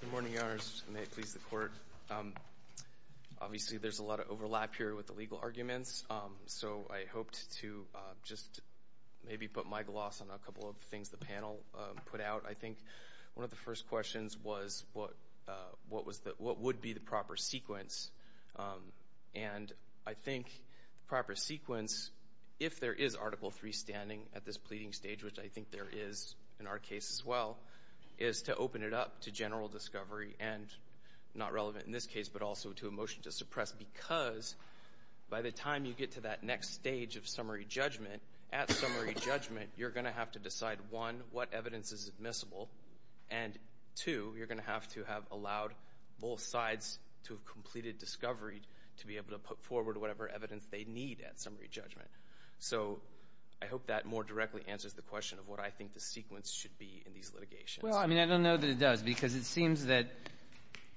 Good morning, Your Honors. May it please the Court. Obviously, there's a lot of overlap here with the legal arguments, so I hoped to just maybe put my gloss on a couple of things the panel put out. I think one of the first questions was what would be the proper sequence? And I think the proper sequence, if there is Article III standing at this pleading stage, which I think there is in our case as well, is to open it up to general discovery and, not relevant in this case, but also to a motion to suppress, because by the time you get to that next stage of summary judgment, at summary judgment, you're going to have to decide, one, what evidence is admissible, and two, you're going to have to have allowed both sides to have completed discovery to be able to put forward whatever evidence they need at summary judgment. So I hope that more directly answers the question of what I think the sequence should be in these litigations. Well, I mean, I don't know that it does, because it seems that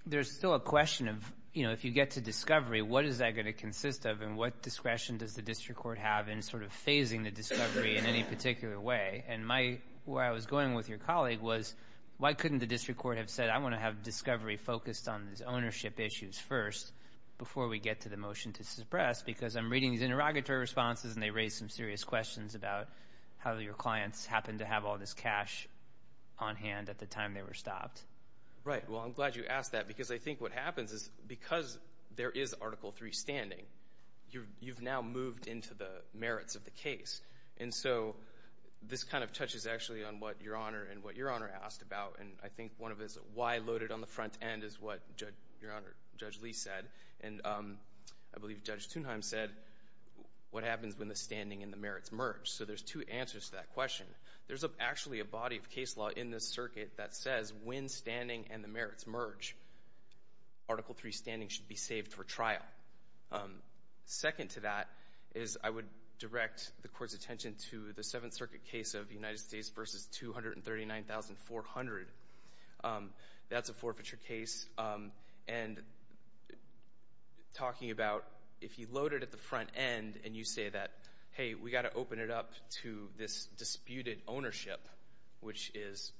there's still a question of, you know, if you get to discovery, what is that going to consist of, and what discretion does the district court have in sort of phasing the discovery in any particular way? And my — where I was going with your colleague was, why couldn't the district court have said, I want to have discovery focused on these ownership issues first, before we get to the motion to suppress? Because I'm reading these interrogatory responses, and they raise some serious questions about how your clients happened to have all this cash on hand at the time they were stopped. Right. Well, I'm glad you asked that, because I think what happens is, because there is Article III standing, you've now moved into the merits of the case. And so, this kind of touches actually on what Your Honor and what Your Honor asked about, and I think one of his — why loaded on the front end is what Judge — Your Honor, Judge Lee said, and I believe Judge Thunheim said, what happens when the standing and the merits merge? So, there's two answers to that question. There's actually a body of case law in this circuit that says, when standing and the merits merge, Article III standing should be saved for trial. Second to that is, I would direct the Court's attention to the Seventh Circuit case of the United States v. 239,400. That's a forfeiture case, and talking about, if you load it at the front end, and you say that, hey, we got to open it up to this disputed ownership, which is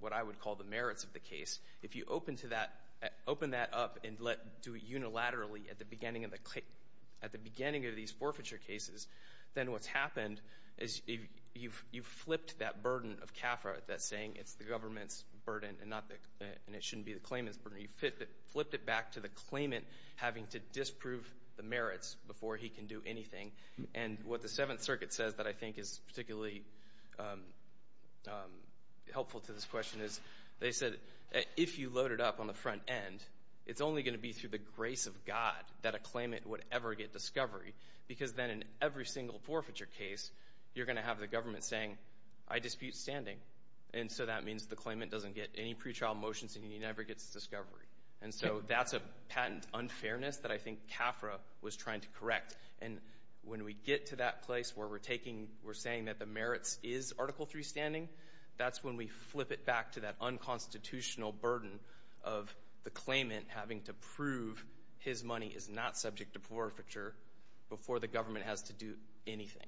what I would call the merits of the case, if you open to that — open that up and let — do it unilaterally at the beginning of the — at the beginning of these forfeiture cases, then what's happened is you've flipped that burden of CAFRA that's saying it's the government's burden and not the — and it shouldn't be the claimant's burden. You flipped it back to the merits before he can do anything. And what the Seventh Circuit says that I think is particularly helpful to this question is, they said, if you load it up on the front end, it's only going to be through the grace of God that a claimant would ever get discovery, because then in every single forfeiture case, you're going to have the government saying, I dispute standing, and so that means the claimant doesn't get any pretrial motions, and he never gets discovery. And so that's a patent unfairness that I think CAFRA was trying to correct. And when we get to that place where we're taking — we're saying that the merits is Article III standing, that's when we flip it back to that unconstitutional burden of the claimant having to prove his money is not subject to forfeiture before the government has to do anything.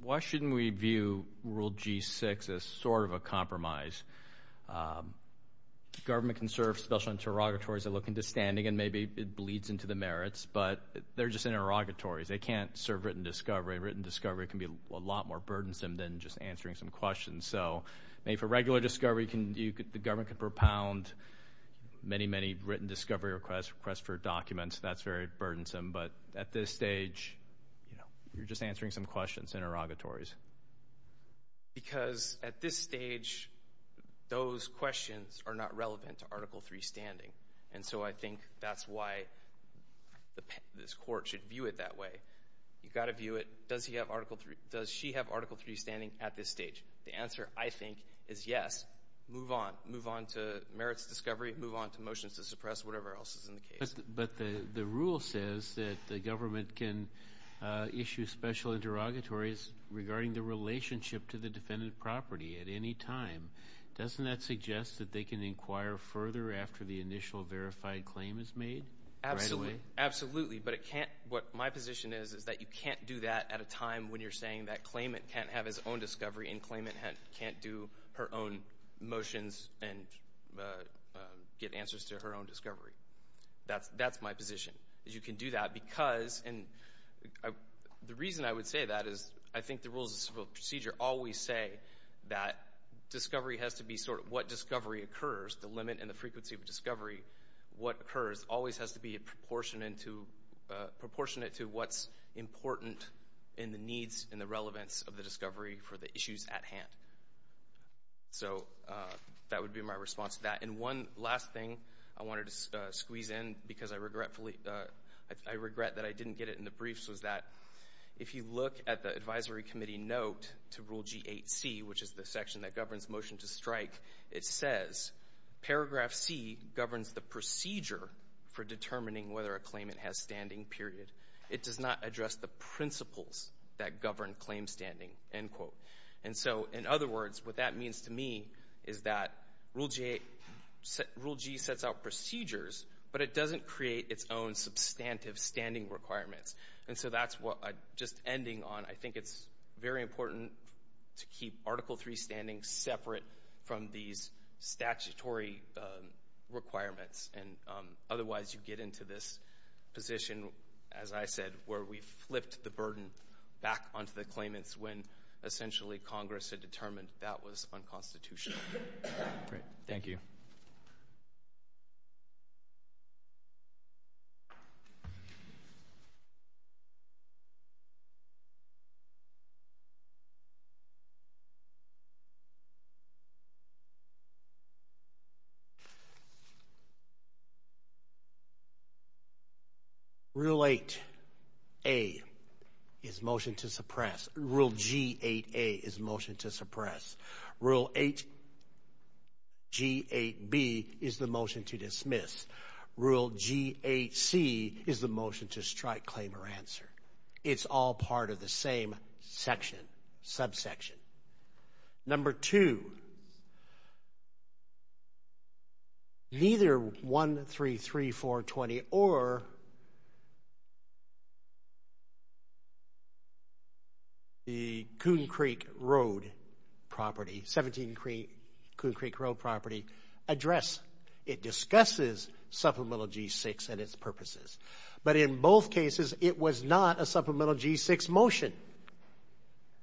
Why shouldn't we view Rule G-6 as sort of a compromise? Government can serve special interrogatories that look into standing, and maybe it bleeds into the merits, but they're just interrogatories. They can't serve written discovery. Written discovery can be a lot more burdensome than just answering some questions. So maybe for regular discovery, the government can propound many, many written discovery requests, requests for documents. That's very burdensome, but at this stage, you know, you're just answering some questions, interrogatories. Because at this stage, those questions are not relevant to Article III standing. And so I think that's why this Court should view it that way. You've got to view it, does he have Article III — does she have Article III standing at this stage? The answer, I think, is yes. Move on. Move on to merits discovery. Move on to motions to suppress, whatever else is in the case. But the rule says that the government can issue special interrogatories regarding the relationship to the defendant property at any time. Doesn't that suggest that they can inquire further after the initial verified claim is made? Absolutely. Absolutely. But it can't — what my position is, is that you can't do that at a time when you're saying that claimant can't have his own discovery, and claimant can't do her own motions and get answers to her own questions. That's my position, is you can do that because — and the reason I would say that is, I think the rules of civil procedure always say that discovery has to be sort of what discovery occurs. The limit and the frequency of discovery, what occurs, always has to be proportionate to what's important in the needs and the relevance of the discovery for the issues at hand. So that would be my response to that. And one last thing I wanted to squeeze in, because I regretfully — I regret that I didn't get it in the briefs, was that if you look at the Advisory Committee note to Rule G8c, which is the section that governs motion to strike, it says, paragraph C governs the procedure for determining whether a claimant has standing, period. It does not address the principles that govern claim standing, end quote. And so, in other words, what that means to me is that Rule G8 — Rule G sets out procedures, but it doesn't create its own substantive standing requirements. And so that's what I'm just ending on. I think it's very important to keep Article III standing separate from these statutory requirements, and otherwise you get into this position, as I said, where we flipped the burden back onto the claimants when essentially Congress had determined that was unconstitutional. Great. Thank you. Rule 8a is motion to suppress. Rule G8a is motion to suppress. Rule 8 — G8b is the Rule G8c is the motion to strike, claim, or answer. It's all part of the same section, subsection. Number two, neither 133420 or the Coon Creek Road property, 17 Coon Creek Road property, address — it discusses Supplemental G6 and its purposes. But in both cases, it was not a Supplemental G6 motion.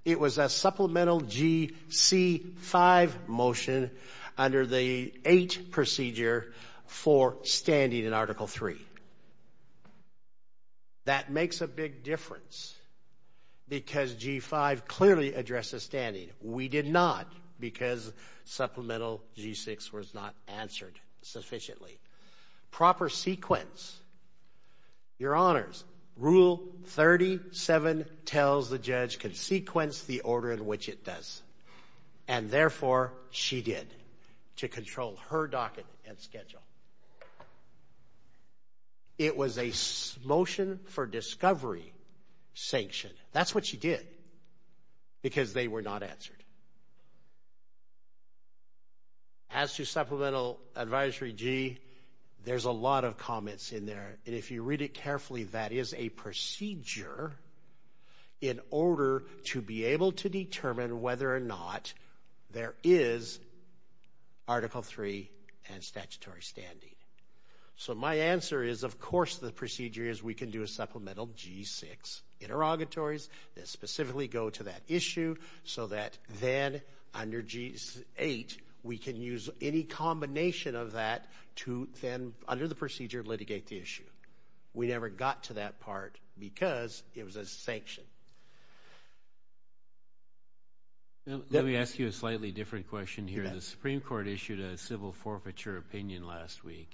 It was a Supplemental Gc5 motion under the 8 procedure for standing in Article III. That makes a big difference because G5 clearly addresses standing. We did not because Supplemental G6 was not answered sufficiently. Proper sequence. Your Honors, Rule 37 tells the judge can sequence the order in which it does, and therefore, she did to control her docket and schedule. It was a motion for standing. As to Supplemental Advisory G, there's a lot of comments in there, and if you read it carefully, that is a procedure in order to be able to determine whether or not there is Article III and statutory standing. So my answer is, of course, the procedure is we can do a Supplemental G6 interrogatories that 8, we can use any combination of that to then, under the procedure, litigate the issue. We never got to that part because it was a sanction. Let me ask you a slightly different question here. The Supreme Court issued a civil forfeiture opinion last week.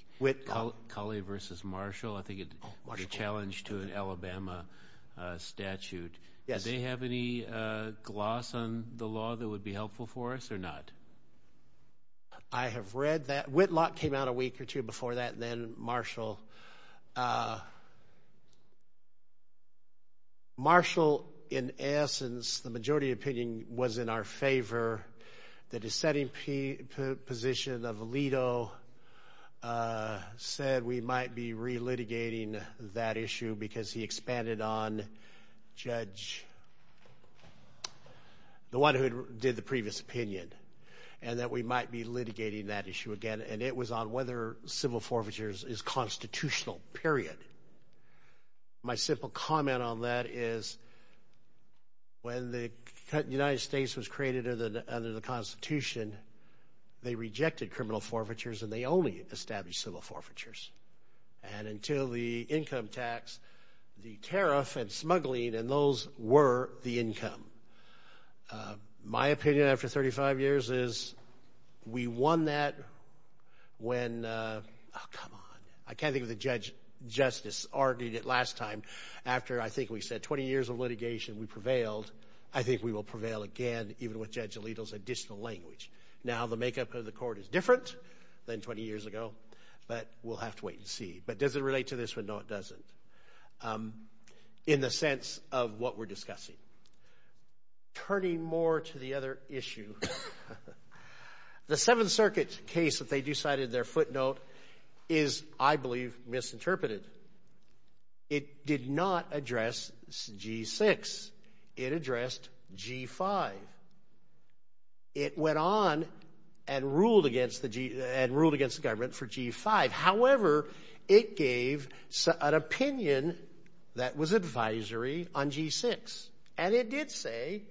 Culley v. Marshall, I think it was a challenge to an Alabama statute. Yes. Do they have any gloss on the law that would be helpful for us or not? I have read that. Whitlock came out a week or two before that, and then Marshall. Marshall, in essence, the majority opinion was in our favor. The dissenting position of Alito said we might be relitigating that issue because he expanded on judge, the one who did the previous opinion, and that we might be litigating that issue again. And it was on whether civil forfeitures is constitutional, period. My simple comment on that is when the United States was created under the Constitution, they rejected criminal forfeitures and they only established civil forfeitures. And until the income tax, the tariff and smuggling, and those were the income. My opinion after 35 years is we won that when, oh, come on. I can't think of the judge justice argued it last time after, I think we said 20 years of litigation, we prevailed. I think we will prevail again, even with Judge Alito's additional language. Now the makeup of the but we'll have to wait and see. But does it relate to this one? No, it doesn't. In the sense of what we're discussing. Turning more to the other issue, the Seventh Circuit case that they decided their footnote is, I believe, misinterpreted. It did not address G6. It addressed G5. It went on and ruled against the government for G5. However, it gave an opinion that was advisory on G6. And it did say,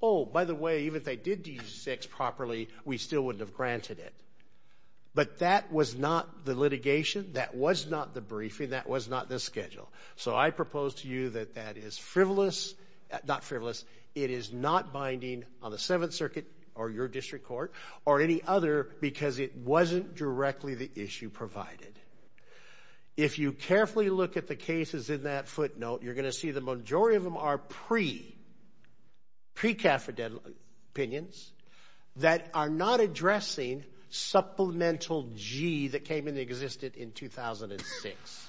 oh, by the way, even if they did G6 properly, we still wouldn't have granted it. But that was not the litigation. That was not the briefing. That was not the schedule. So I propose to you that that is frivolous, not frivolous, it is not binding on the Seventh Circuit or your district court or any other, because it wasn't directly the issue provided. If you carefully look at the cases in that footnote, you're going to see the majority of them are pre-Cafferden opinions that are not addressing supplemental G that came into existence in 2006.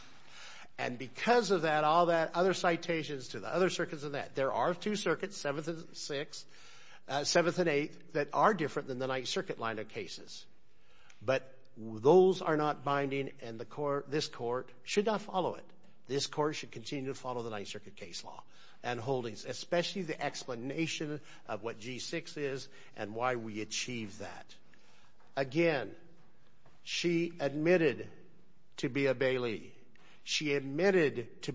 And because of that, all that other citations to the other circuits and that, there are two circuits, Seventh and Eighth, that are different than the Ninth Circuit line of cases. But those are not binding and this court should not follow it. This court should continue to follow the Ninth Circuit case law and holdings, especially the explanation of what G6 is and why we achieved that. Again, she admitted to be a Bailey. She admitted to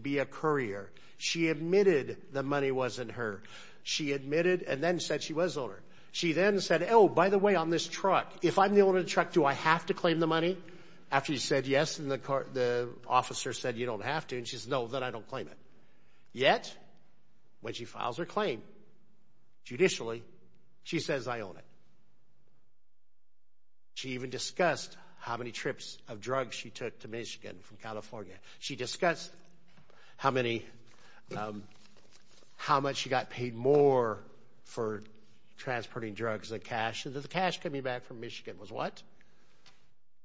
and then said she was owner. She then said, oh, by the way, on this truck, if I'm the owner of the truck, do I have to claim the money? After you said yes and the officer said, you don't have to. And she said, no, then I don't claim it. Yet, when she files her claim, judicially, she says, I own it. She even discussed how many trips of drugs she took to Michigan from California. She discussed how many, how much she got paid more for transporting drugs and cash. The cash coming back from Michigan was what?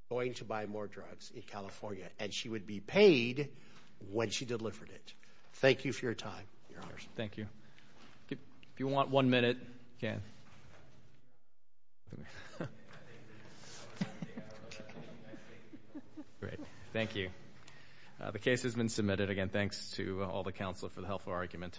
Going to buy more drugs in California. And she would be paid when she delivered it. Thank you for your time, Your Honors. Thank you. If you want one minute, Ken. Thank you. The case has been submitted. Again, thanks to all the counsel for the helpful argument.